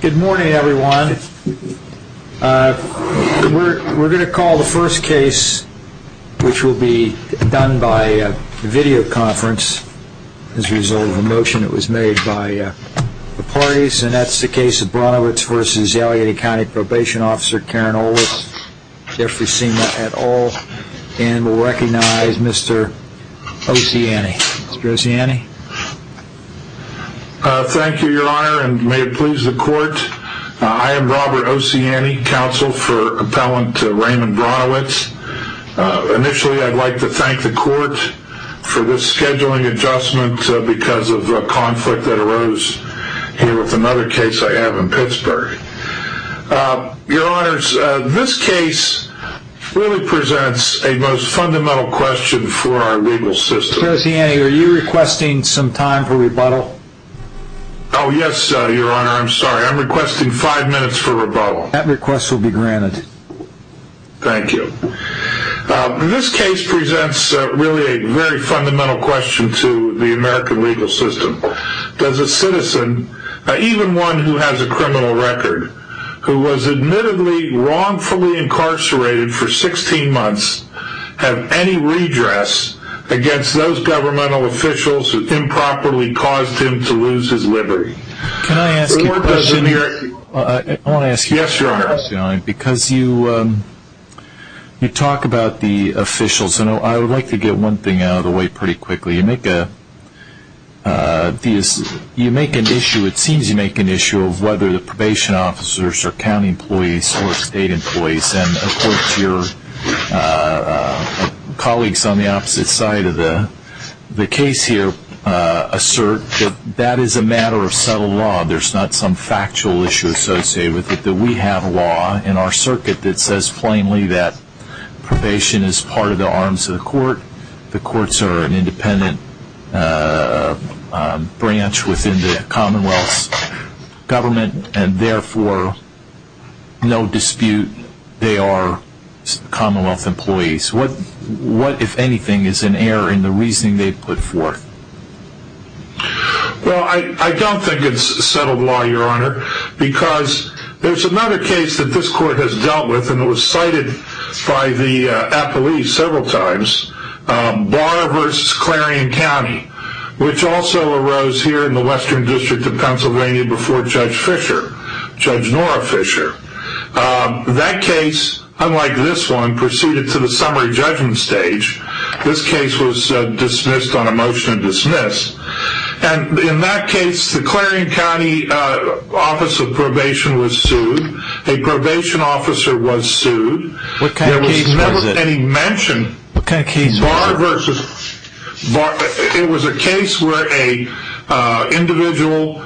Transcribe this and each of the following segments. Good morning, everyone. We're going to call the first case, which will be done by a video conference as a result of a motion that was made by the parties, and that's the case of Brownowicz v. Allegheny County Probation Officer Karen Olitz, if we've seen that at all. And we'll recognize Mr. Ociani. Mr. Ociani? Thank you, your honor, and may it please the court. I am Robert Ociani, counsel for appellant Raymond Brownowicz. Initially, I'd like to thank the court for this scheduling adjustment because of a conflict that arose here with another case I have in Pittsburgh. Your honors, this case really presents a most fundamental question for our legal system. Mr. Ociani, are you requesting some time for rebuttal? Oh, yes, your honor, I'm sorry. I'm requesting five minutes for rebuttal. That request will be granted. Thank you. This case presents really a very fundamental question to the American legal system. Does a citizen, even one who has a criminal record, who was admittedly wrongfully incarcerated for 16 months, have any redress against those governmental officials who improperly caused him to lose his liberty? Can I ask you a question? Yes, your honor. Because you talk about the officials, I would like to get one thing out of the way pretty quickly. You make an issue, it seems you make an issue, of whether the probation officers are county employees or state employees. And of course, your colleagues on the opposite side of the case here assert that that is a matter of subtle law. There's not some factual issue associated with it. in our circuit that says plainly that probation is part of the arms of the court, the courts are an independent branch within the commonwealth's government, and therefore, no dispute, they are commonwealth employees. What, if anything, is an error in the reasoning they put forth? Well, I don't think it's subtle law, your honor, because there's another case that this court has dealt with, and it was cited by the appellee several times. Barr v. Clarion County, which also arose here in the Western District of Pennsylvania before Judge Fischer, Judge Nora Fischer. That case, unlike this one, proceeded to the summary judgment stage. This case was dismissed on a motion to dismiss. And in that case, the Clarion County Office of Probation was sued. A probation officer was sued. What kind of case was it? It was a case where an individual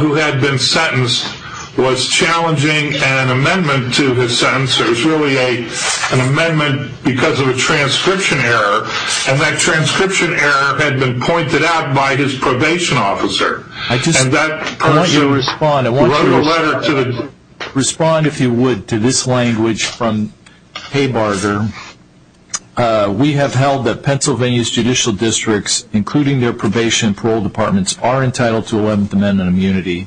who had been sentenced was challenging an amendment to his sentence. It was really an amendment because of a transcription error, and that transcription error had been pointed out by his probation officer. I want you to respond, if you would, to this language from Haybarger. We have held that Pennsylvania's judicial districts, including their probation and parole departments, are entitled to Eleventh Amendment immunity.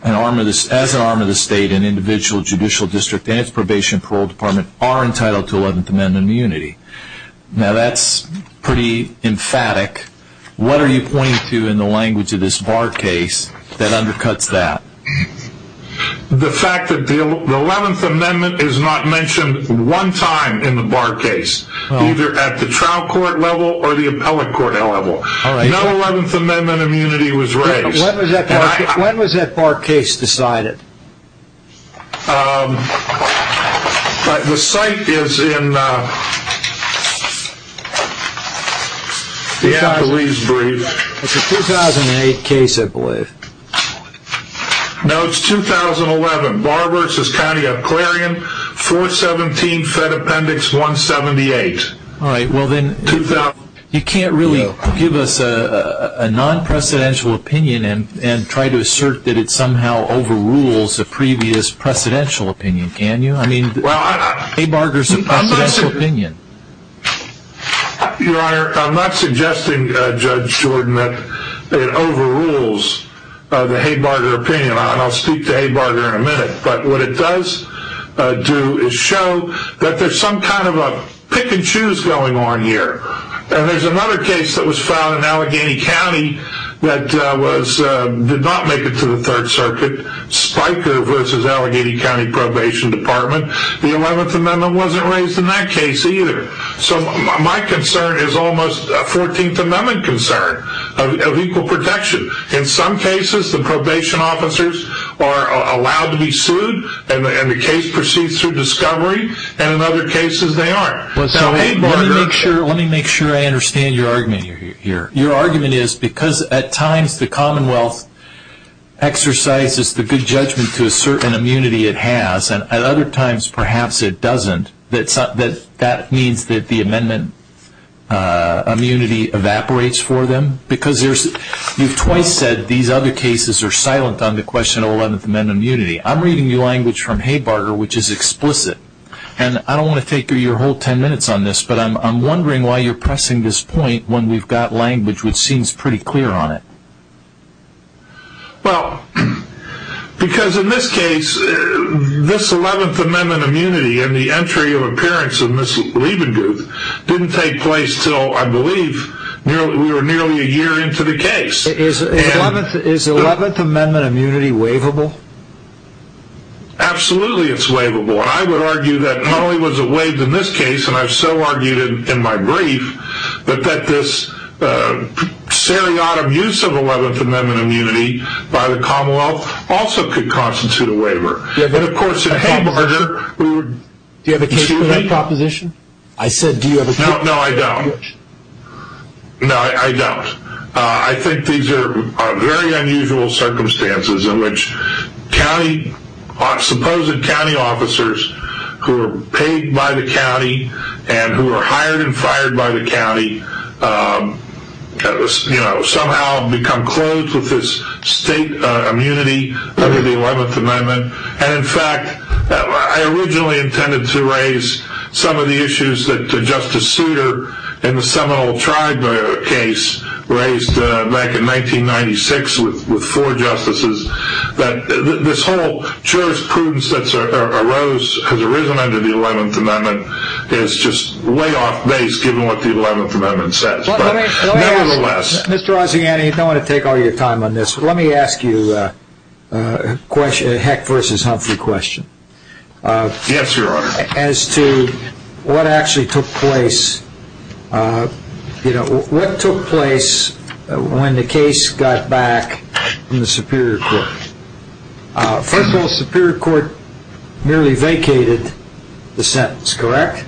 As an arm of the state, an individual judicial district and its probation and parole department are entitled to Eleventh Amendment immunity. Now, that's pretty emphatic. What are you pointing to in the language of this Barr case that undercuts that? The fact that the Eleventh Amendment is not mentioned one time in the Barr case, either at the trial court level or the appellate court level. No Eleventh Amendment immunity was raised. When was that Barr case decided? The site is in the Applebee's brief. It's a 2008 case, I believe. No, it's 2011, Barr v. County of Clarion, 417 Fed Appendix 178. You can't really give us a non-precedential opinion and try to assert that it somehow overrules a previous precedential opinion, can you? I mean, Haybarger's a precedential opinion. Your Honor, I'm not suggesting, Judge Jordan, that it overrules the Haybarger opinion. I'll speak to Haybarger in a minute, but what it does do is show that there's some kind of a pick-and-choose going on here. There's another case that was filed in Allegheny County that did not make it to the Third Circuit, Spiker v. Allegheny County Probation Department. The Eleventh Amendment wasn't raised in that case, either. So, my concern is almost a Fourteenth Amendment concern of equal protection. In some cases, the probation officers are allowed to be sued, and the case proceeds through discovery, and in other cases, they aren't. Let me make sure I understand your argument here. Your argument is, because at times the Commonwealth exercises the good judgment to assert an immunity it has, and at other times, perhaps it doesn't, that that means that the Amendment immunity evaporates for them? Because you've twice said these other cases are silent on the question of Eleventh Amendment immunity. I'm reading your language from Haybarger, which is explicit, and I don't want to take your whole ten minutes on this, but I'm wondering why you're pressing this point when we've got language which seems pretty clear on it. Well, because in this case, this Eleventh Amendment immunity and the entry of appearance of Ms. Leibenguth didn't take place until, I believe, we were nearly a year into the case. Is Eleventh Amendment immunity waivable? Absolutely it's waivable, and I would argue that not only was it waived in this case, and I've so argued in my brief, but that this seriatim use of Eleventh Amendment immunity by the Commonwealth also could constitute a waiver. Do you have a case for that proposition? No, I don't. No, I don't. I think these are very unusual circumstances in which supposed county officers who are paid by the county and who are hired and fired by the county somehow become closed with this state immunity under the Eleventh Amendment. In fact, I originally intended to raise some of the issues that Justice Souter in the Seminole Tribe case raised back in 1996 with four justices. This whole jurisprudence that has arisen under the Eleventh Amendment is just way off base given what the Eleventh Amendment says. Nevertheless... Mr. Rossiani, you don't want to take all your time on this, but let me ask you a Heck v. Humphrey question. Yes, Your Honor. As to what actually took place, what took place when the case got back in the Superior Court? First of all, the Superior Court merely vacated the sentence, correct?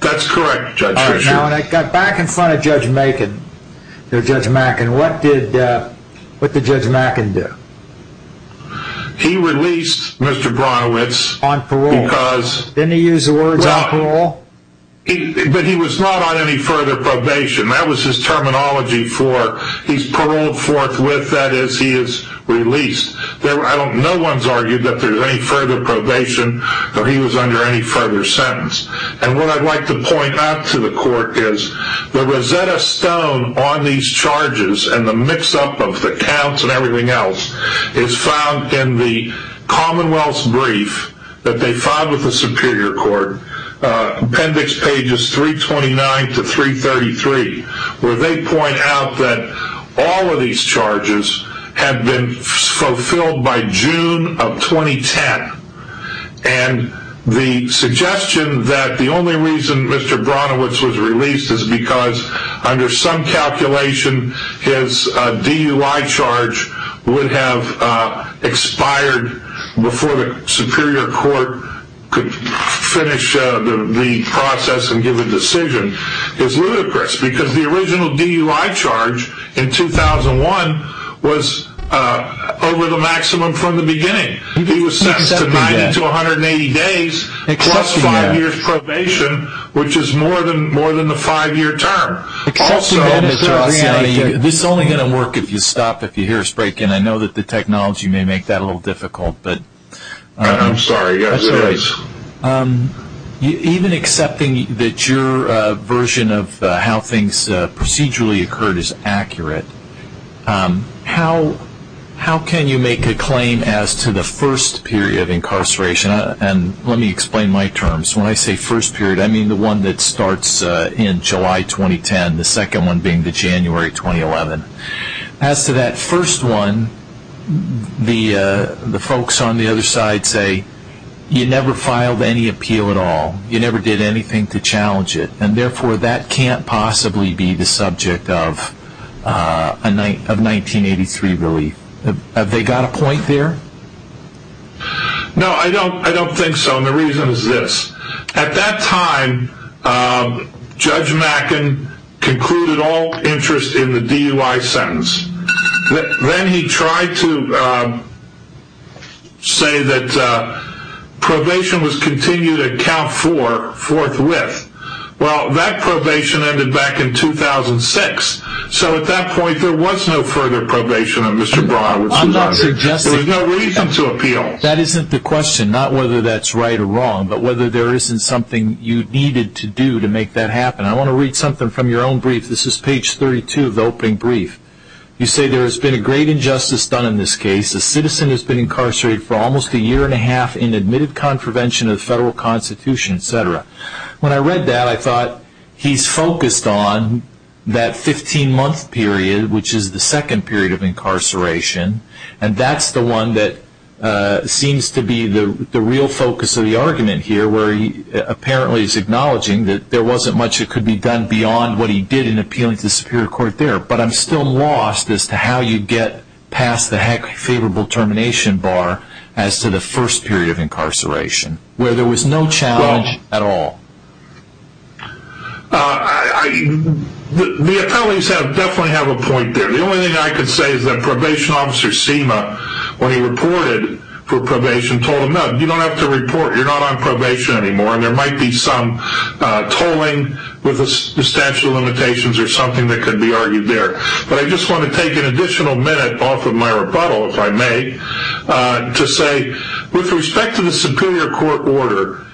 That's correct, Judge Fisher. Now, when it got back in front of Judge Mackin, what did Judge Mackin do? He released Mr. Bronowitz. On parole? Because... Didn't he use the words on parole? But he was not on any further probation. That was his terminology for he's paroled forthwith, that is he is released. No one's argued that there was any further probation or he was under any further sentence. And what I'd like to point out to the Court is the Rosetta Stone on these charges and the mix-up of the counts and everything else is found in the Commonwealth's brief that they filed with the Superior Court, appendix pages 329 to 333, where they point out that all of these charges had been fulfilled by June of 2010. And the suggestion that the only reason Mr. Bronowitz was released is because under some calculation his DUI charge would have expired before the Superior Court could finish the process and give a decision is ludicrous because the original DUI charge in 2001 was over the maximum from the beginning. He was sentenced to 90 to 180 days plus five years probation, which is more than the five-year term. Also... This is only going to work if you stop, if you hear us break in. I know that the technology may make that a little difficult, but... I'm sorry. That's all right. Even accepting that your version of how things procedurally occurred is accurate, how can you make a claim as to the first period of incarceration? And let me explain my terms. When I say first period, I mean the one that starts in July 2010, the second one being the January 2011. As to that first one, the folks on the other side say, you never filed any appeal at all. You never did anything to challenge it. And therefore, that can't possibly be the subject of 1983 relief. Have they got a point there? No, I don't think so, and the reason is this. At that time, Judge Mackin concluded all interest in the DUI sentence. Then he tried to say that probation was continued at count four, forthwith. Well, that probation ended back in 2006. So at that point, there was no further probation on Mr. Braun. There was no reason to appeal. That isn't the question, not whether that's right or wrong, but whether there isn't something you needed to do to make that happen. I want to read something from your own brief. This is page 32 of the opening brief. You say there has been a great injustice done in this case. A citizen has been incarcerated for almost a year and a half in admitted contravention of the federal constitution, etc. When I read that, I thought he's focused on that 15-month period, which is the second period of incarceration, and that's the one that seems to be the real focus of the argument here, where he apparently is acknowledging that there wasn't much that could be done beyond what he did in appealing to the Superior Court there. But I'm still lost as to how you get past the heck-favorable termination bar as to the first period of incarceration, where there was no challenge at all. The appellees definitely have a point there. The only thing I can say is that Probation Officer Seema, when he reported for probation, told him, no, you don't have to report, you're not on probation anymore, and there might be some tolling with substantial limitations or something that could be argued there. But I just want to take an additional minute off of my rebuttal, if I may, to say with respect to the Superior Court order,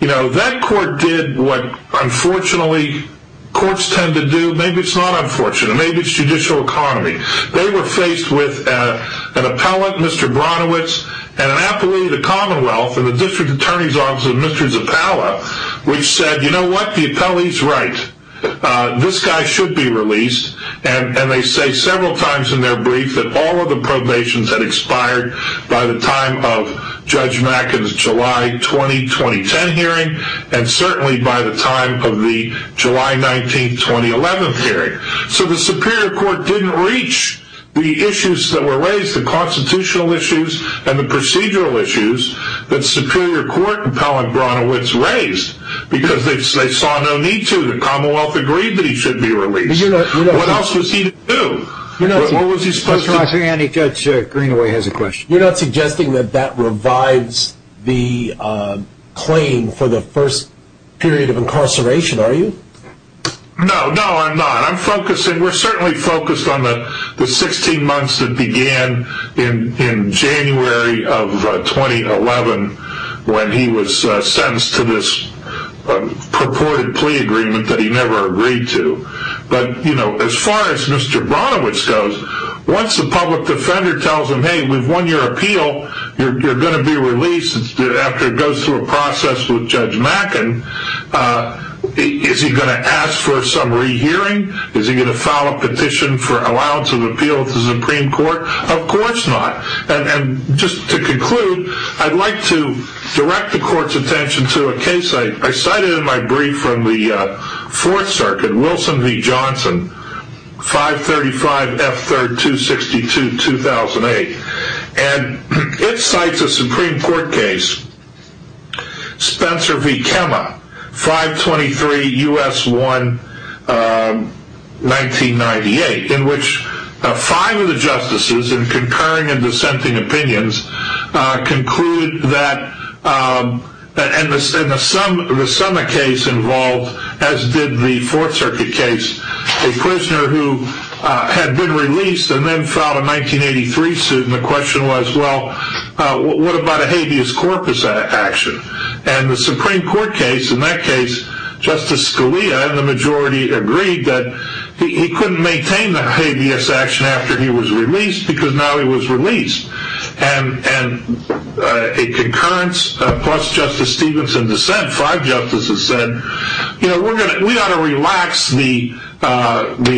that court did what unfortunately courts tend to do. Maybe it's not unfortunate, maybe it's judicial economy. They were faced with an appellate, Mr. Bronowitz, and an appellee of the Commonwealth in the District Attorney's Office, Mr. Zappala, which said, you know what, the appellee's right, this guy should be released, and they say several times in their brief that all of the probations had expired by the time of Judge Macken's July 20, 2010 hearing, and certainly by the time of the July 19, 2011 hearing. So the Superior Court didn't reach the issues that were raised, the constitutional issues and the procedural issues, that Superior Court and Pell and Bronowitz raised, because they saw no need to. The Commonwealth agreed that he should be released. What else was he to do? What was he supposed to do? Judge Greenaway has a question. You're not suggesting that that revives the claim for the first period of incarceration, are you? No, no, I'm not. I'm focusing, we're certainly focused on the 16 months that began in January of 2011, when he was sentenced to this purported plea agreement that he never agreed to. But, you know, as far as Mr. Bronowitz goes, once the public defender tells him, hey, we've won your appeal, you're going to be released after it goes through a process with Judge Macken, is he going to ask for some rehearing? Is he going to file a petition for allowance of appeal to the Supreme Court? Of course not. And just to conclude, I'd like to direct the Court's attention to a case I cited in my brief from the Fourth Circuit, Wilson v. Johnson, 535 F. 3rd, 262, 2008. And it cites a Supreme Court case, Spencer v. Kemme, 523 U.S. 1, 1998, in which five of the justices in concurring and dissenting opinions conclude that, and the summa case involved, as did the Fourth Circuit case, a prisoner who had been released and then filed a 1983 suit. And the question was, well, what about a habeas corpus action? And the Supreme Court case, in that case, Justice Scalia and the majority agreed that he couldn't maintain the habeas action after he was released because now he was released. And a concurrence, plus Justice Stevenson dissent, five justices said, you know, we ought to relax the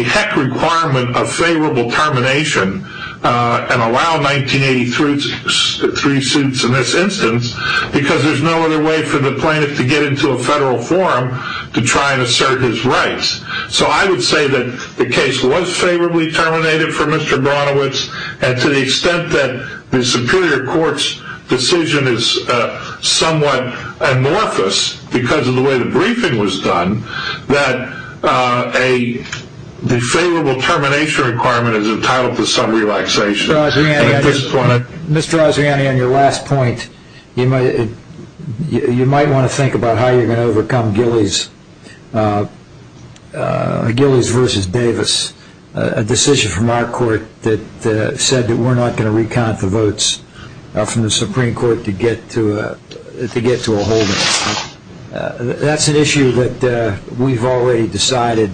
heck requirement of favorable termination and allow 1983 suits in this instance because there's no other way for the plaintiff to get into a federal forum to try and assert his rights. So I would say that the case was favorably terminated for Mr. Bronowitz, and to the extent that the Superior Court's decision is somewhat amorphous because of the way the briefing was done, that a favorable termination requirement is entitled to some relaxation. And at this point I... Mr. Ozziani, on your last point, you might want to think about how you're going to overcome Gillies versus Davis, a decision from our court that said that we're not going to recount the votes from the Supreme Court to get to a holding. That's an issue that we've already decided,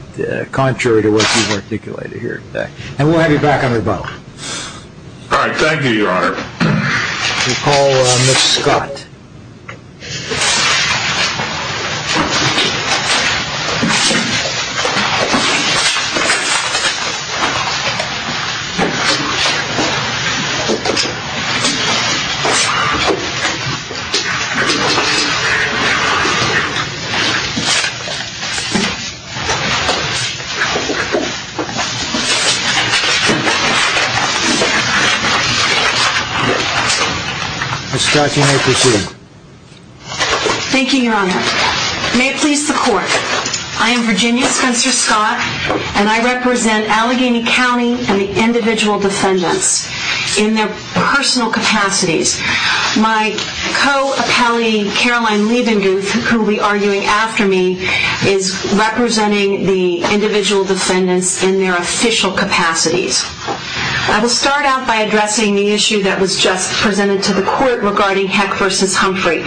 contrary to what you've articulated here. And we'll have you back on rebuttal. All right. Thank you, Your Honor. We'll call Ms. Scott. Ms. Scott, you may proceed. Thank you, Your Honor. May it please the court, I am Virginia Spencer Scott, and I represent Allegheny County and the individual defendants in their personal capacities. And my co-appellee, Caroline Leibenguth, who will be arguing after me, is representing the individual defendants in their official capacities. I will start out by addressing the issue that was just presented to the court regarding Heck versus Humphrey.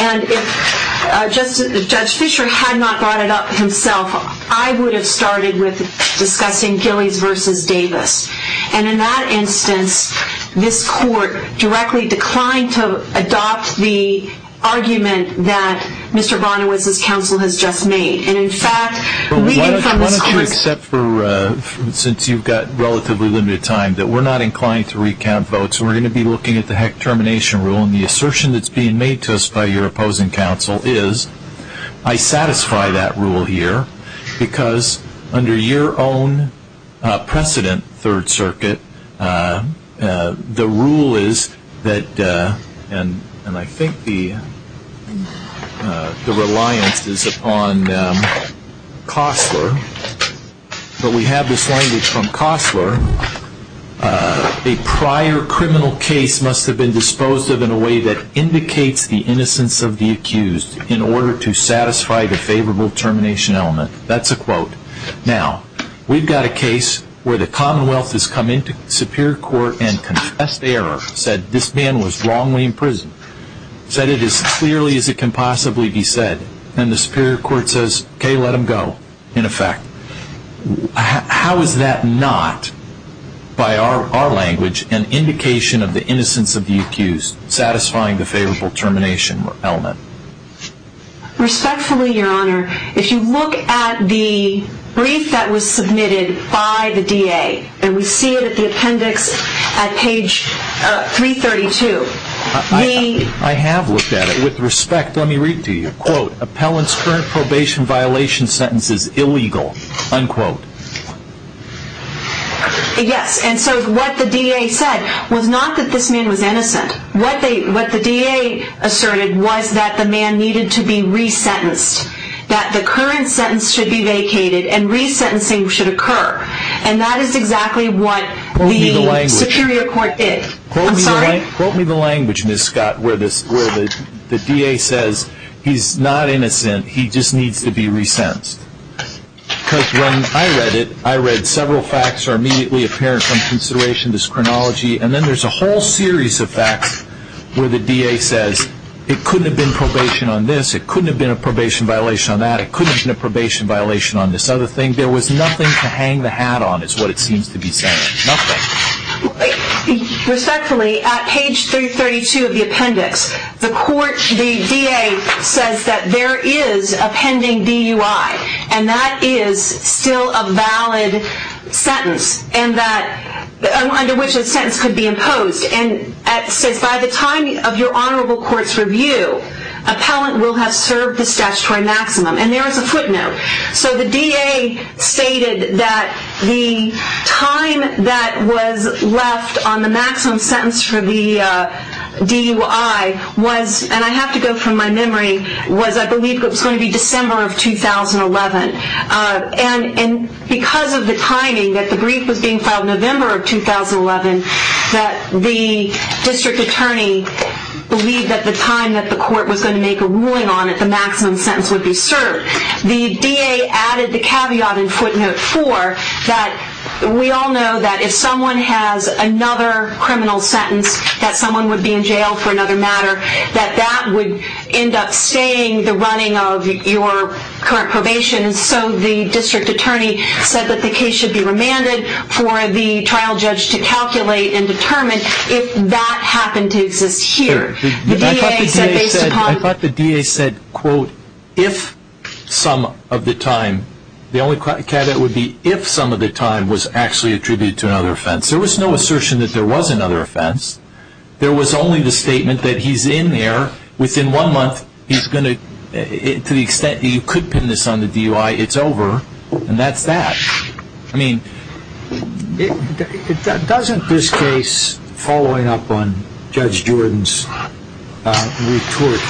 And if Judge Fisher had not brought it up himself, I would have started with discussing Gillies versus Davis. And in that instance, this court directly declined to adopt the argument that Mr. Bonowitz's counsel has just made. And in fact, reading from this court's- Why don't you accept, since you've got relatively limited time, that we're not inclined to recount votes, and we're going to be looking at the Heck termination rule. And the assertion that's being made to us by your opposing counsel is, I satisfy that rule here, because under your own precedent, Third Circuit, the rule is that, and I think the reliance is upon Costler, but we have this language from Costler, a prior criminal case must have been disposed of in a way that indicates the innocence of the accused in order to satisfy the favorable termination element. That's a quote. Now, we've got a case where the Commonwealth has come into Superior Court and confessed error, said this man was wrongly imprisoned, said it as clearly as it can possibly be said, and the Superior Court says, okay, let him go, in effect. How is that not, by our language, an indication of the innocence of the accused, satisfying the favorable termination element? Respectfully, Your Honor, if you look at the brief that was submitted by the DA, and we see it at the appendix at page 332, the- I have looked at it. With respect, let me read to you. Quote, appellant's current probation violation sentence is illegal, unquote. Yes, and so what the DA said was not that this man was innocent. What the DA asserted was that the man needed to be resentenced, that the current sentence should be vacated and resentencing should occur, and that is exactly what the Superior Court did. I'm sorry? Quote me the language, Ms. Scott, where the DA says he's not innocent, he just needs to be resentenced, because when I read it, I read several facts are immediately apparent from consideration, this chronology, and then there's a whole series of facts where the DA says it couldn't have been probation on this, it couldn't have been a probation violation on that, it couldn't have been a probation violation on this other thing. There was nothing to hang the hat on, is what it seems to be saying, nothing. Respectfully, at page 332 of the appendix, the DA says that there is a pending DUI, and that is still a valid sentence, under which a sentence could be imposed, and it says by the time of your honorable court's review, appellant will have served the statutory maximum, and there is a footnote. So the DA stated that the time that was left on the maximum sentence for the DUI was, and I have to go from my memory, was I believe it was going to be December of 2011, and because of the timing, that the brief was being filed November of 2011, that the district attorney believed that the time that the court was going to make a ruling on it, the maximum sentence would be served. The DA added the caveat in footnote 4 that we all know that if someone has another criminal sentence, that someone would be in jail for another matter, that that would end up staying the running of your current probation, and so the district attorney said that the case should be remanded for the trial judge to calculate and determine if that happened to exist here. I thought the DA said, quote, if some of the time, the only caveat would be if some of the time was actually attributed to another offense. There was no assertion that there was another offense. There was only the statement that he's in there, within one month, he's going to, to the extent that you could pin this on the DUI, it's over, and that's that. I mean, doesn't this case, following up on Judge Jordan's retort,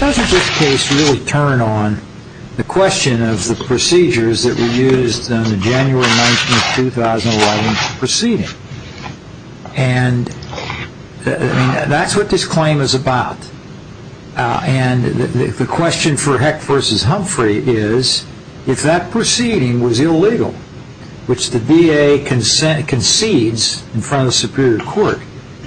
doesn't this case really turn on the question of the procedures that were used in the January 19, 2011, proceeding? And that's what this claim is about. And the question for Heck v. Humphrey is, if that proceeding was illegal, which the DA concedes in front of the Superior Court,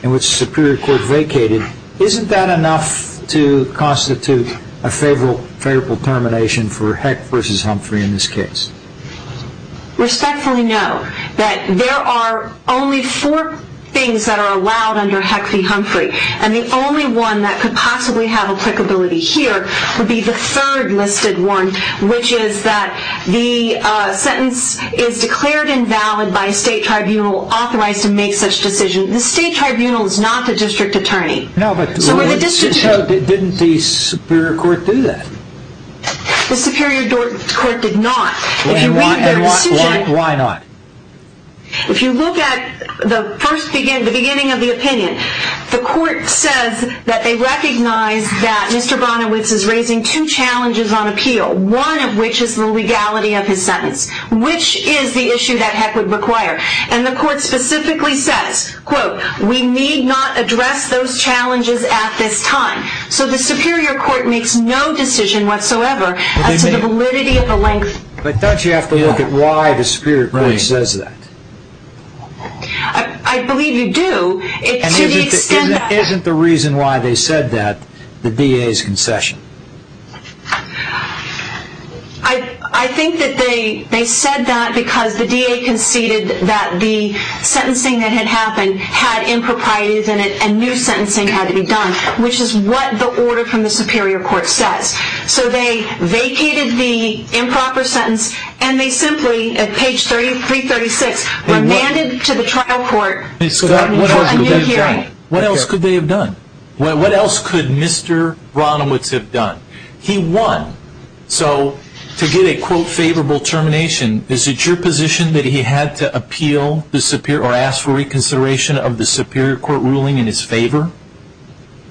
in which the Superior Court vacated, isn't that enough to constitute a favorable termination for Heck v. Humphrey in this case? Respectfully, no. There are only four things that are allowed under Heck v. Humphrey, and the only one that could possibly have applicability here would be the third listed one, which is that the sentence is declared invalid by a state tribunal authorized to make such decisions. The state tribunal is not the district attorney. No, but didn't the Superior Court do that? The Superior Court did not. And why not? If you look at the beginning of the opinion, the court says that they recognize that Mr. Bonowitz is raising two challenges on appeal, one of which is the legality of his sentence, which is the issue that Heck would require. And the court specifically says, quote, we need not address those challenges at this time. So the Superior Court makes no decision whatsoever as to the validity of the length. But don't you have to look at why the Superior Court says that? I believe you do. And isn't the reason why they said that the DA's concession? I think that they said that because the DA conceded that the sentencing that had happened had improprieties in it and new sentencing had to be done, which is what the order from the Superior Court says. So they vacated the improper sentence and they simply, at page 336, remanded to the trial court a new hearing. What else could they have done? What else could Mr. Bonowitz have done? He won. So to get a, quote, favorable termination, is it your position that he had to appeal or ask for reconsideration of the Superior Court ruling in his favor?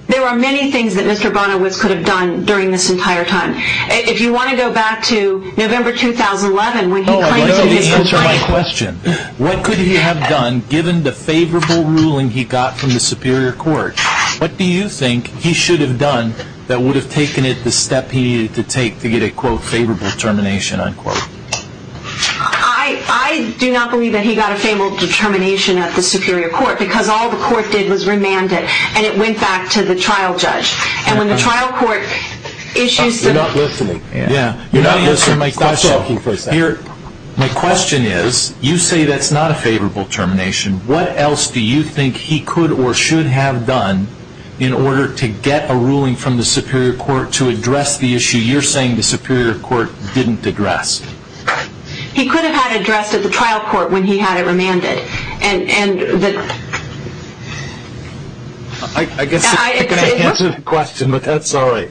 There are many things that Mr. Bonowitz could have done during this entire time. If you want to go back to November 2011, when he claims to have been- Let me answer my question. What could he have done given the favorable ruling he got from the Superior Court? What do you think he should have done that would have taken it the step he needed to take to get a, quote, favorable termination, unquote? I do not believe that he got a favorable termination at the Superior Court because all the court did was remand it. And it went back to the trial judge. And when the trial court issues- You're not listening. Yeah. You're not listening to my question. Stop talking for a second. My question is, you say that's not a favorable termination. What else do you think he could or should have done in order to get a ruling from the Superior Court to address the issue you're saying the Superior Court didn't address? He could have had it addressed at the trial court when he had it remanded. And the- I guess I can answer the question, but that's all right.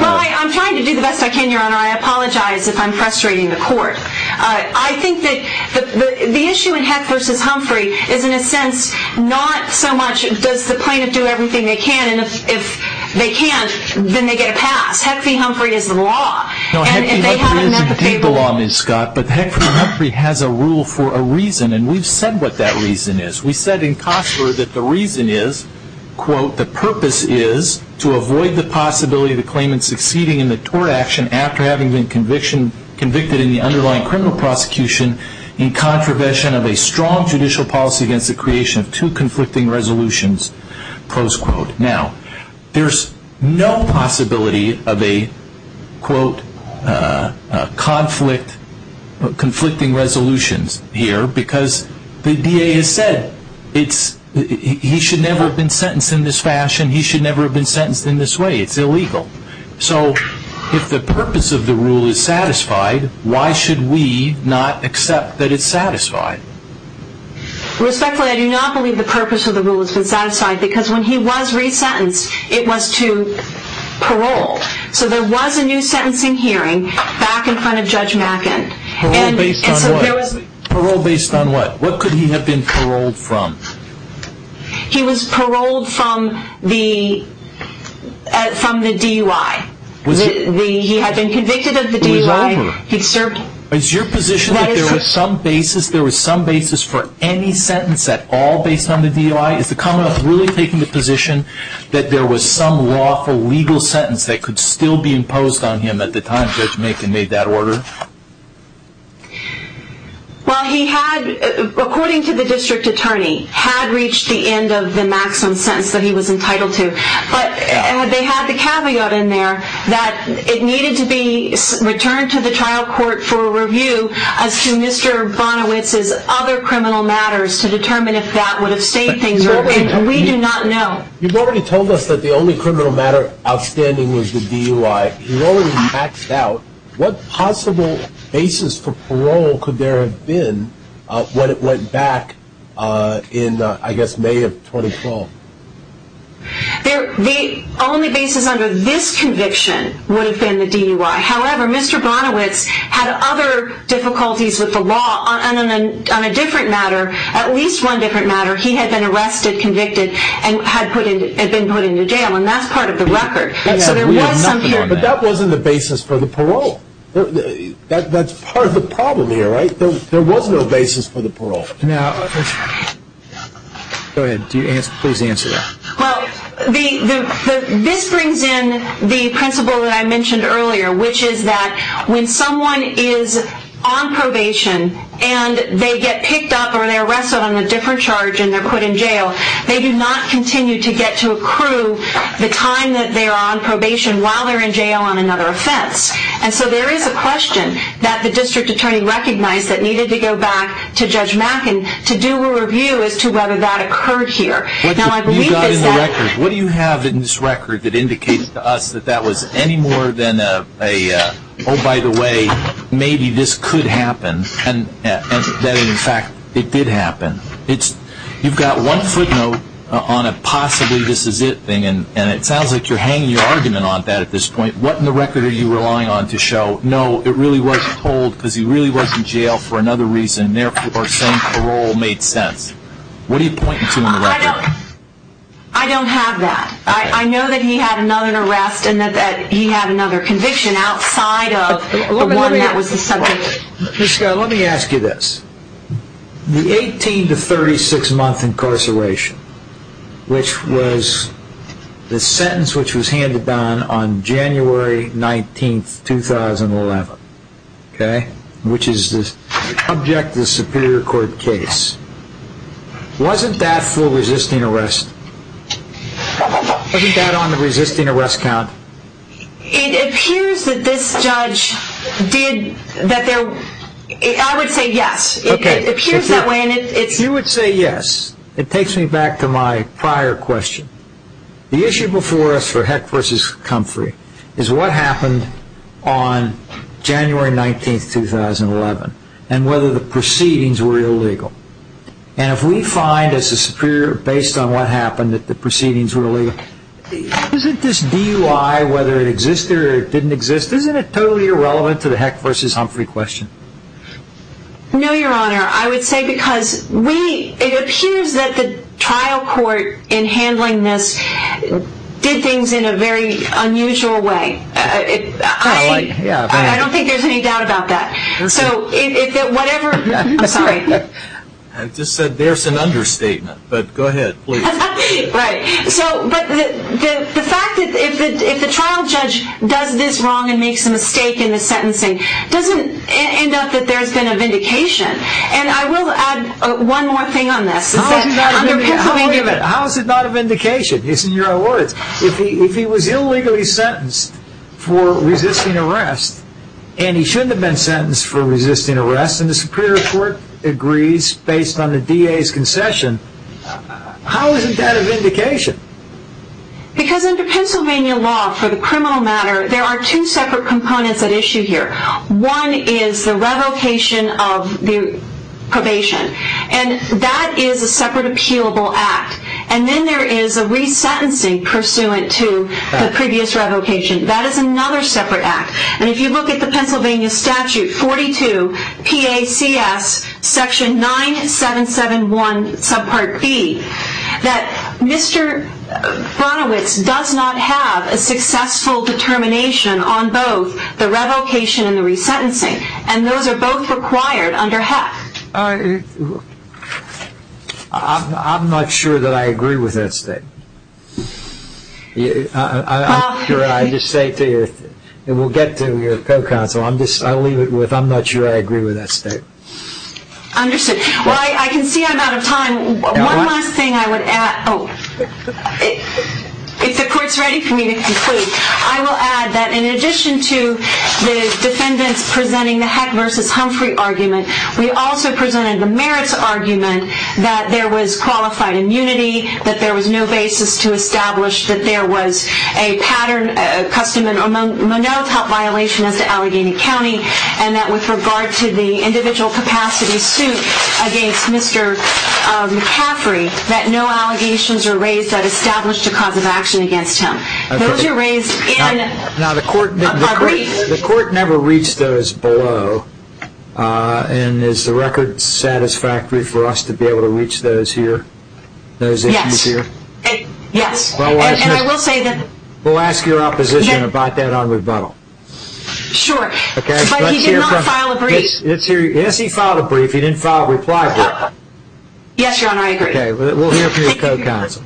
Well, I'm trying to do the best I can, Your Honor. I apologize if I'm frustrating the court. I think that the issue in Heck v. Humphrey is, in a sense, not so much does the plaintiff do everything they can, and if they can't, then they get a pass. Heck v. Humphrey is the law. No, Heck v. Humphrey isn't the law, Ms. Scott, but Heck v. Humphrey has a rule for a reason, and we've said what that reason is. We said in Costler that the reason is, quote, the purpose is to avoid the possibility of the claimant succeeding in the tort action after having been convicted in the underlying criminal prosecution in contravention of a strong judicial policy against the creation of two conflicting resolutions, close quote. Now, there's no possibility of a, quote, conflict, conflicting resolutions here because the DA has said it's- he should never have been sentenced in this fashion. He should never have been sentenced in this way. It's illegal. So if the purpose of the rule is satisfied, why should we not accept that it's satisfied? Respectfully, I do not believe the purpose of the rule has been satisfied because when he was resentenced, it was to parole. So there was a new sentencing hearing back in front of Judge Mackin. Parole based on what? Parole based on what? What could he have been paroled from? He was paroled from the DUI. He had been convicted of the DUI. It was over. Is your position that there was some basis, there was some basis for any sentence at all based on the DUI? Is the Commonwealth really taking the position that there was some lawful legal sentence that could still be imposed on him at the time Judge Mackin made that order? Well, he had, according to the district attorney, had reached the end of the maximum sentence that he was entitled to. But they had the caveat in there that it needed to be returned to the trial court for review as to Mr. Bonowitz's other criminal matters to determine if that would have stayed things. And we do not know. You've already told us that the only criminal matter outstanding was the DUI. You've already maxed out. What possible basis for parole could there have been when it went back in, I guess, May of 2012? The only basis under this conviction would have been the DUI. However, Mr. Bonowitz had other difficulties with the law on a different matter, at least one different matter. He had been arrested, convicted, and had been put into jail, and that's part of the record. But that wasn't the basis for the parole. That's part of the problem here, right? There was no basis for the parole. Go ahead. Please answer that. Well, this brings in the principle that I mentioned earlier, which is that when someone is on probation and they get picked up or they're arrested on a different charge and they're put in jail, they do not continue to get to accrue the time that they're on probation while they're in jail on another offense. And so there is a question that the district attorney recognized that needed to go back to Judge Mackin to do a review as to whether that occurred here. What do you have in this record that indicates to us that that was any more than a, oh, by the way, maybe this could happen, and that, in fact, it did happen? You've got one footnote on a possibly this is it thing, and it sounds like you're hanging your argument on that at this point. What in the record are you relying on to show, no, it really wasn't told because he really was in jail for another reason, therefore saying parole made sense? What are you pointing to in the record? I don't have that. I know that he had another arrest and that he had another conviction outside of the one that was the subject. Ms. Scott, let me ask you this. The 18 to 36 month incarceration, which was the sentence which was handed down on January 19, 2011, okay, which is the subject of the Superior Court case, wasn't that for resisting arrest? Wasn't that on the resisting arrest count? It appears that this judge did, I would say yes. Okay. It appears that way. You would say yes. It takes me back to my prior question. The issue before us for Heck v. Comfrey is what happened on January 19, 2011, and whether the proceedings were illegal. And if we find as the Superior based on what happened that the proceedings were illegal, isn't this DUI, whether it exists or didn't exist, isn't it totally irrelevant to the Heck v. Comfrey question? No, Your Honor. I would say because it appears that the trial court in handling this did things in a very unusual way. I don't think there's any doubt about that. I'm sorry. I just said there's an understatement, but go ahead, please. Right. But the fact that if the trial judge does this wrong and makes a mistake in the sentencing, doesn't end up that there's been a vindication. And I will add one more thing on this. How is it not a vindication? If he was illegally sentenced for resisting arrest and he shouldn't have been sentenced for resisting arrest and the Superior Court agrees based on the DA's concession, how isn't that a vindication? Because under Pennsylvania law for the criminal matter, there are two separate components at issue here. One is the revocation of the probation, and that is a separate appealable act. And then there is a resentencing pursuant to the previous revocation. That is another separate act. And if you look at the Pennsylvania statute 42 PACS section 9771 subpart B, that Mr. Bronowitz does not have a successful determination on both the revocation and the resentencing. And those are both required under Heck. I'm not sure that I agree with that statement. I'm sure I just say to you, and we'll get to your co-counsel, I'll leave it with I'm not sure I agree with that statement. Understood. Well, I can see I'm out of time. One last thing I would add. If the Court's ready for me to conclude, I will add that in addition to the defendants presenting the Heck versus Humphrey argument, we also presented the merits argument that there was qualified immunity, that there was no basis to establish that there was a pattern, a custom and monotop violation as to Allegheny County, and that with regard to the individual capacity suit against Mr. McCaffrey, that no allegations are raised that established a cause of action against him. Those are raised in a brief. The Court never reached those below, and is the record satisfactory for us to be able to reach those here? Yes. Those issues here? Yes. And I will say that. We'll ask your opposition about that on rebuttal. Sure. Okay. But he did not file a brief. Yes, he filed a brief. He didn't file a reply brief. Yes, Your Honor, I agree. Okay. We'll hear from your co-counsel.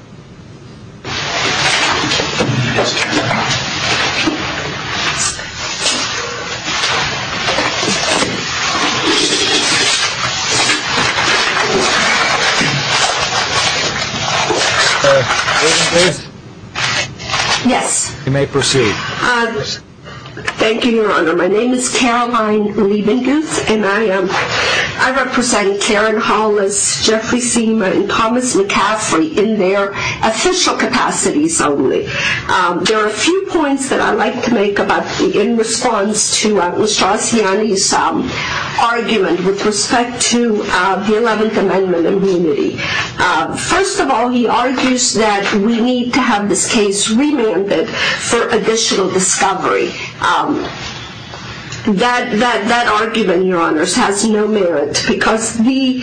Yes. You may proceed. Thank you, Your Honor. My name is Caroline Lee-Vincus, and I represent Karen Hollis, Jeffrey Seema, and Thomas McCaffrey in their case. There are a few points that I'd like to make in response to Mr. Asiani's argument with respect to the 11th Amendment immunity. First of all, he argues that we need to have this case remanded for additional discovery. That argument, Your Honors, has no merit because the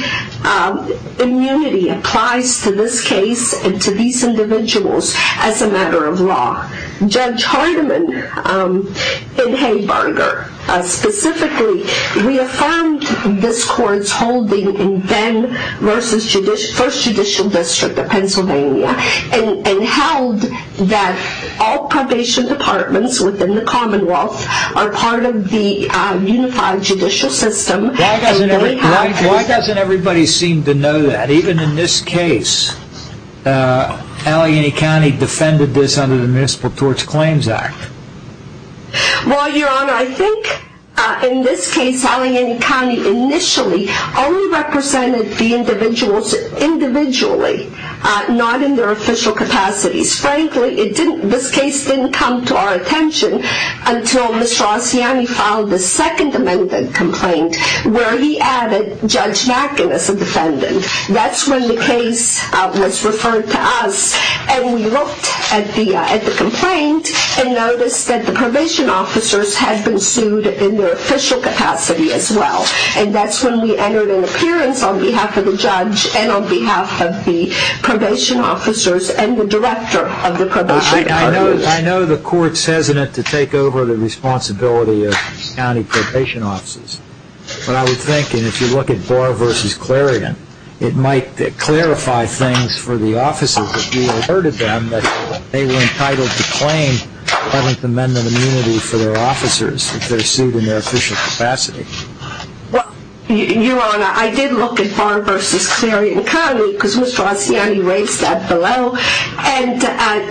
immunity applies to this case and to these individuals as a matter of law. Judge Hardiman in Haybarger specifically reaffirmed this court's holding in Venn versus First Judicial District of Pennsylvania and held that all probation departments within the Commonwealth are part of the unified judicial system. Why doesn't everybody seem to know that? Even in this case, Allegheny County defended this under the Municipal Tort Claims Act. Well, Your Honor, I think in this case, Allegheny County initially only represented the individuals individually, not in their official capacities. Frankly, this case didn't come to our attention until Mr. Asiani filed the Second Amendment complaint where he added Judge Mackin as a defendant. That's when the case was referred to us and we looked at the complaint and noticed that the probation officers had been sued in their official capacity as well. And that's when we entered an appearance on behalf of the judge and on behalf of the probation officers and the director of the probation department. I know the court's hesitant to take over the responsibility of county probation officers. But I would think, and if you look at Barr v. Clarion, it might clarify things for the officers if you alerted them that they were entitled to claim Eleventh Amendment immunity for their officers if they're sued in their official capacity. Well, Your Honor, I did look at Barr v. Clarion County because Mr. Asiani raised that below. And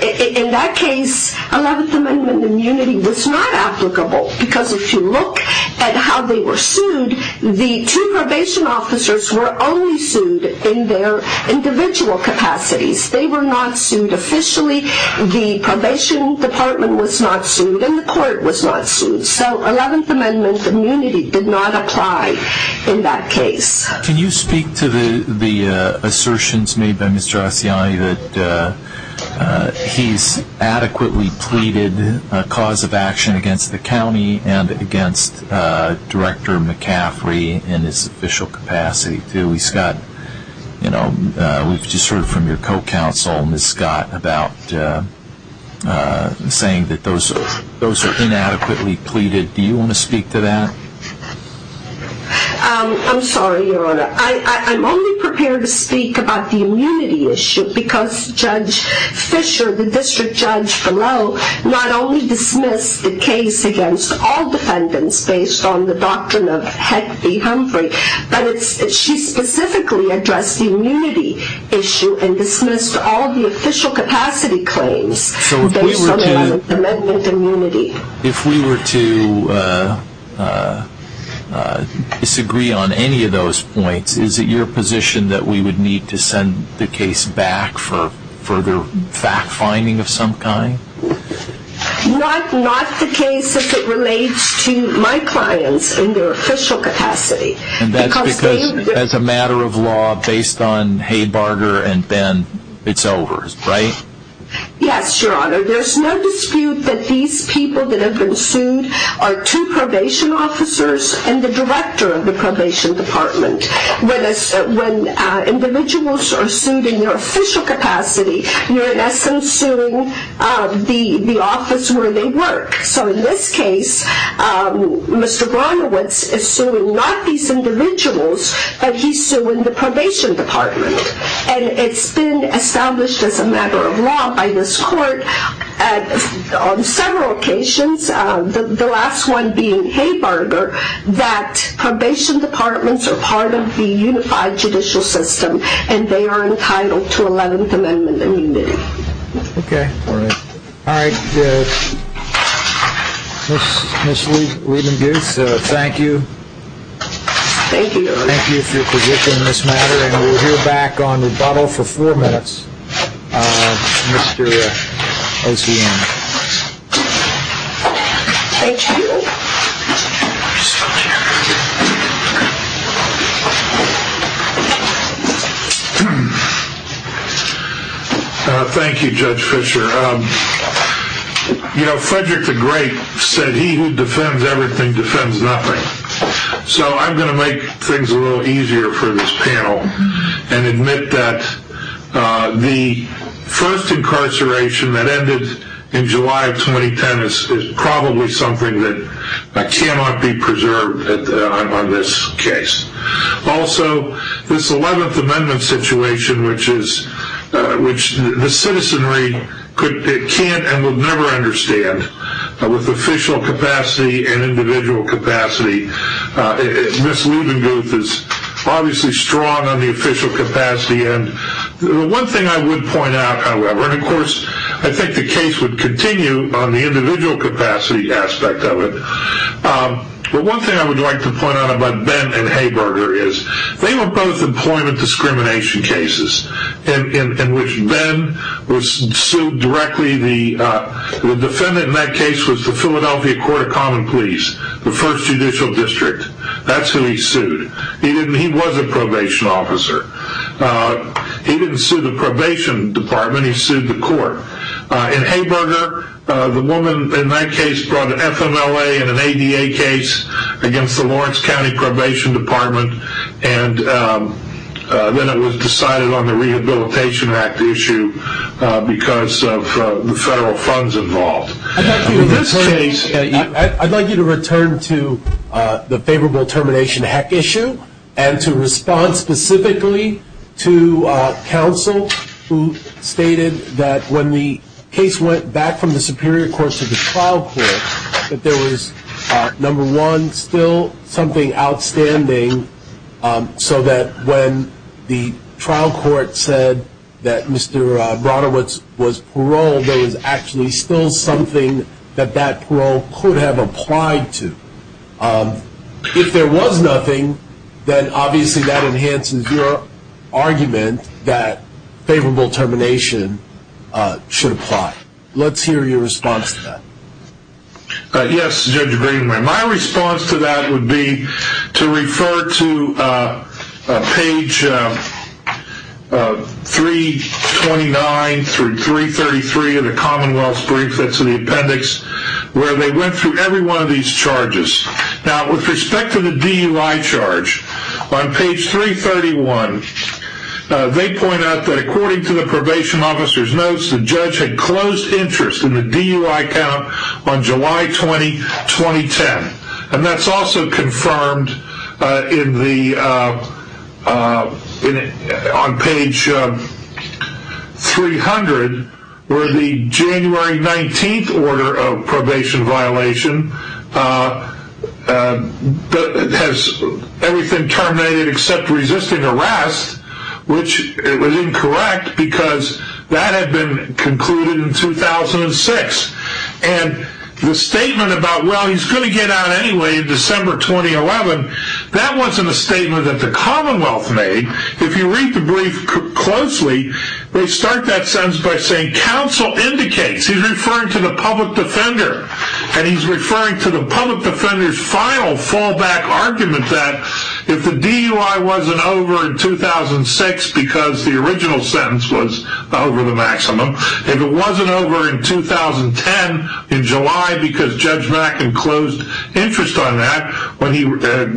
in that case, Eleventh Amendment immunity was not applicable because if you look at how they were sued, the two probation officers were only sued in their individual capacities. They were not sued officially. The probation department was not sued and the court was not sued. So Eleventh Amendment immunity did not apply in that case. Can you speak to the assertions made by Mr. Asiani that he's adequately pleaded a cause of action against the county and against Director McCaffrey in his official capacity? We've just heard from your co-counsel, Ms. Scott, about saying that those are inadequately pleaded. Do you want to speak to that? I'm sorry, Your Honor. I'm only prepared to speak about the immunity issue because Judge Fisher, the district judge for Lowell, not only dismissed the case against all defendants based on the doctrine of Head v. Humphrey, but she specifically addressed the immunity issue and dismissed all the official capacity claims based on Eleventh Amendment immunity. If we were to disagree on any of those points, is it your position that we would need to send the case back for further fact-finding of some kind? Not the case if it relates to my clients in their official capacity. And that's because as a matter of law, based on Haybarger and Ben, it's over, right? Yes, Your Honor. There's no dispute that these people that have been sued are two probation officers and the director of the probation department. When individuals are sued in their official capacity, you're in essence suing the office where they work. So in this case, Mr. Brunowitz is suing not these individuals, but he's suing the probation department. And it's been established as a matter of law by this court on several occasions, the last one being Haybarger, that probation departments are part of the unified judicial system and they are entitled to Eleventh Amendment immunity. Okay. All right. Ms. Leidenbuth, thank you. Thank you, Your Honor. Thank you for your position on this matter. And we'll hear back on rebuttal for four minutes. Mr. Osian. Thank you. Thank you, Judge Fischer. You know, Frederick the Great said he who defends everything defends nothing. So I'm going to make things a little easier for this panel and admit that the first incarceration that ended in July of 2010 is probably something that cannot be preserved on this case. Also, this Eleventh Amendment situation, which the citizenry can't and will never understand, with official capacity and individual capacity, Ms. Leidenbuth is obviously strong on the official capacity. One thing I would point out, however, and of course I think the case would continue on the individual capacity aspect of it, but one thing I would like to point out about Ben and Haybarger is they were both employment discrimination cases in which Ben was sued directly. The defendant in that case was the Philadelphia Court of Common Pleas, the first judicial district. That's who he sued. He was a probation officer. He didn't sue the probation department. He sued the court. In Haybarger, the woman in that case brought an FMLA and an ADA case against the Lawrence County Probation Department, and then it was decided on the Rehabilitation Act issue because of the federal funds involved. In this case, I'd like you to return to the favorable termination heck issue and to respond specifically to counsel who stated that when the case went back from the Superior Court to the trial court, that there was, number one, still something outstanding so that when the trial court said that Mr. Bronowitz was paroled, there was actually still something that that parole could have applied to. If there was nothing, then obviously that enhances your argument that favorable termination should apply. Let's hear your response to that. Yes, Judge Greenway. My response to that would be to refer to page 329 through 333 of the Commonwealth's brief. That's in the appendix where they went through every one of these charges. Now, with respect to the DUI charge, on page 331, they point out that according to the probation officer's notes, the judge had closed interest in the DUI count on July 20, 2010. That's also confirmed on page 300 where the January 19th order of probation violation has everything terminated except resisting arrest, which was incorrect because that had been concluded in 2006. And the statement about, well, he's going to get out anyway in December 2011, that wasn't a statement that the Commonwealth made. If you read the brief closely, they start that sentence by saying counsel indicates. He's referring to the public defender. And he's referring to the public defender's final fallback argument that if the DUI wasn't over in 2006 because the original sentence was over the maximum, if it wasn't over in 2010 in July because Judge Mack had closed interest on that when he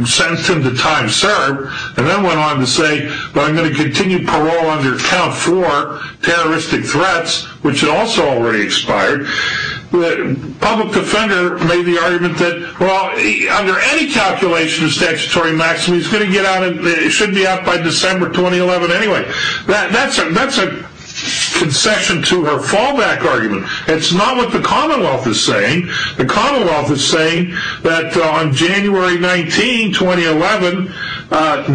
sentenced him to time served, and then went on to say, well, I'm going to continue parole under count four, terroristic threats, which had also already expired, the public defender made the argument that, well, under any calculation of statutory maximum, he's going to get out and it should be out by December 2011 anyway. That's a concession to her fallback argument. It's not what the Commonwealth is saying. The Commonwealth is saying that on January 19, 2011,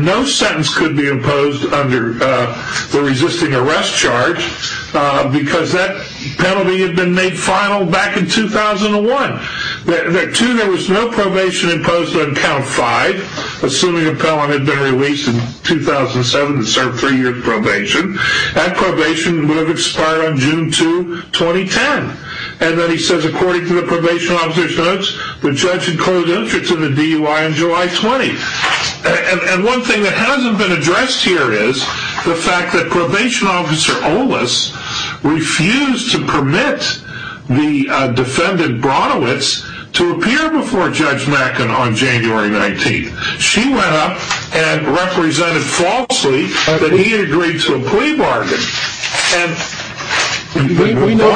no sentence could be imposed under the resisting arrest charge because that penalty had been made final back in 2001. Two, there was no probation imposed on count five, assuming a felon had been released in 2007 and served three years probation. That probation would have expired on June 2, 2010. And then he says, according to the probation officer's notes, the judge had closed interest in the DUI on July 20. And one thing that hasn't been addressed here is the fact that probation officer Olis refused to permit the defendant Bronowitz to appear before Judge Mack on January 19. She went up and represented falsely that he had agreed to a plea bargain. We know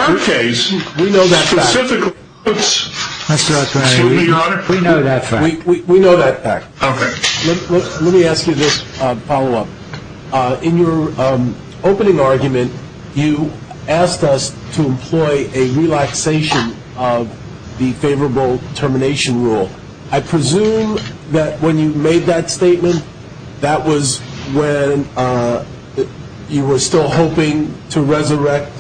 that fact. In your opening argument, you asked us to employ a relaxation of the favorable termination rule. I presume that when you made that statement, that was when you were still hoping to resurrect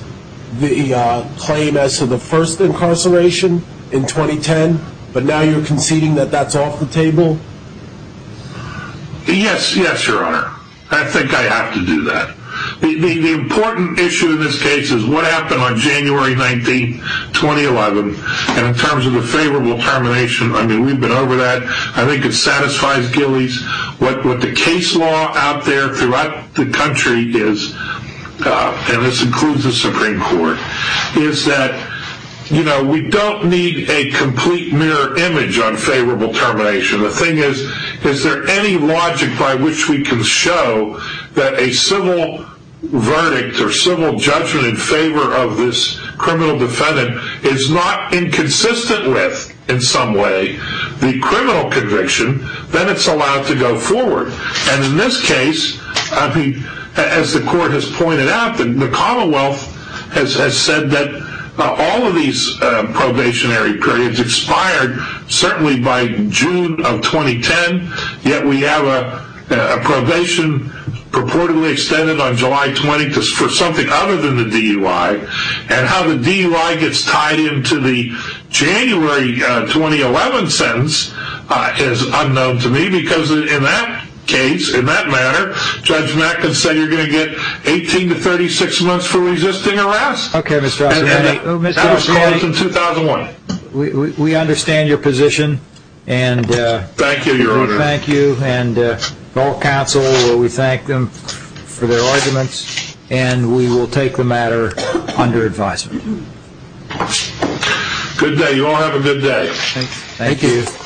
the claim as to the first incarceration in 2010, but now you're conceding that that's off the table? Yes, yes, Your Honor. I think I have to do that. The important issue in this case is what happened on January 19, 2011. And in terms of the favorable termination, I mean, we've been over that. I think it satisfies Gillies. What the case law out there throughout the country is, and this includes the Supreme Court, is that we don't need a complete mirror image on favorable termination. The thing is, is there any logic by which we can show that a civil verdict or civil judgment in favor of this criminal defendant is not inconsistent with, in some way, the criminal conviction, then it's allowed to go forward. And in this case, as the Court has pointed out, the Commonwealth has said that all of these probationary periods expired certainly by June of 2010, yet we have a probation purportedly extended on July 20 for something other than the DUI. And how the DUI gets tied into the January 2011 sentence is unknown to me, because in that case, in that matter, Judge Mack has said you're going to get 18 to 36 months for resisting arrest. Okay, Mr. Osborne. That was in 2001. We understand your position. Thank you, Your Honor. Thank you. And all counsel, we thank them for their arguments, and we will take the matter under advisement. Good day. You all have a good day. Thank you.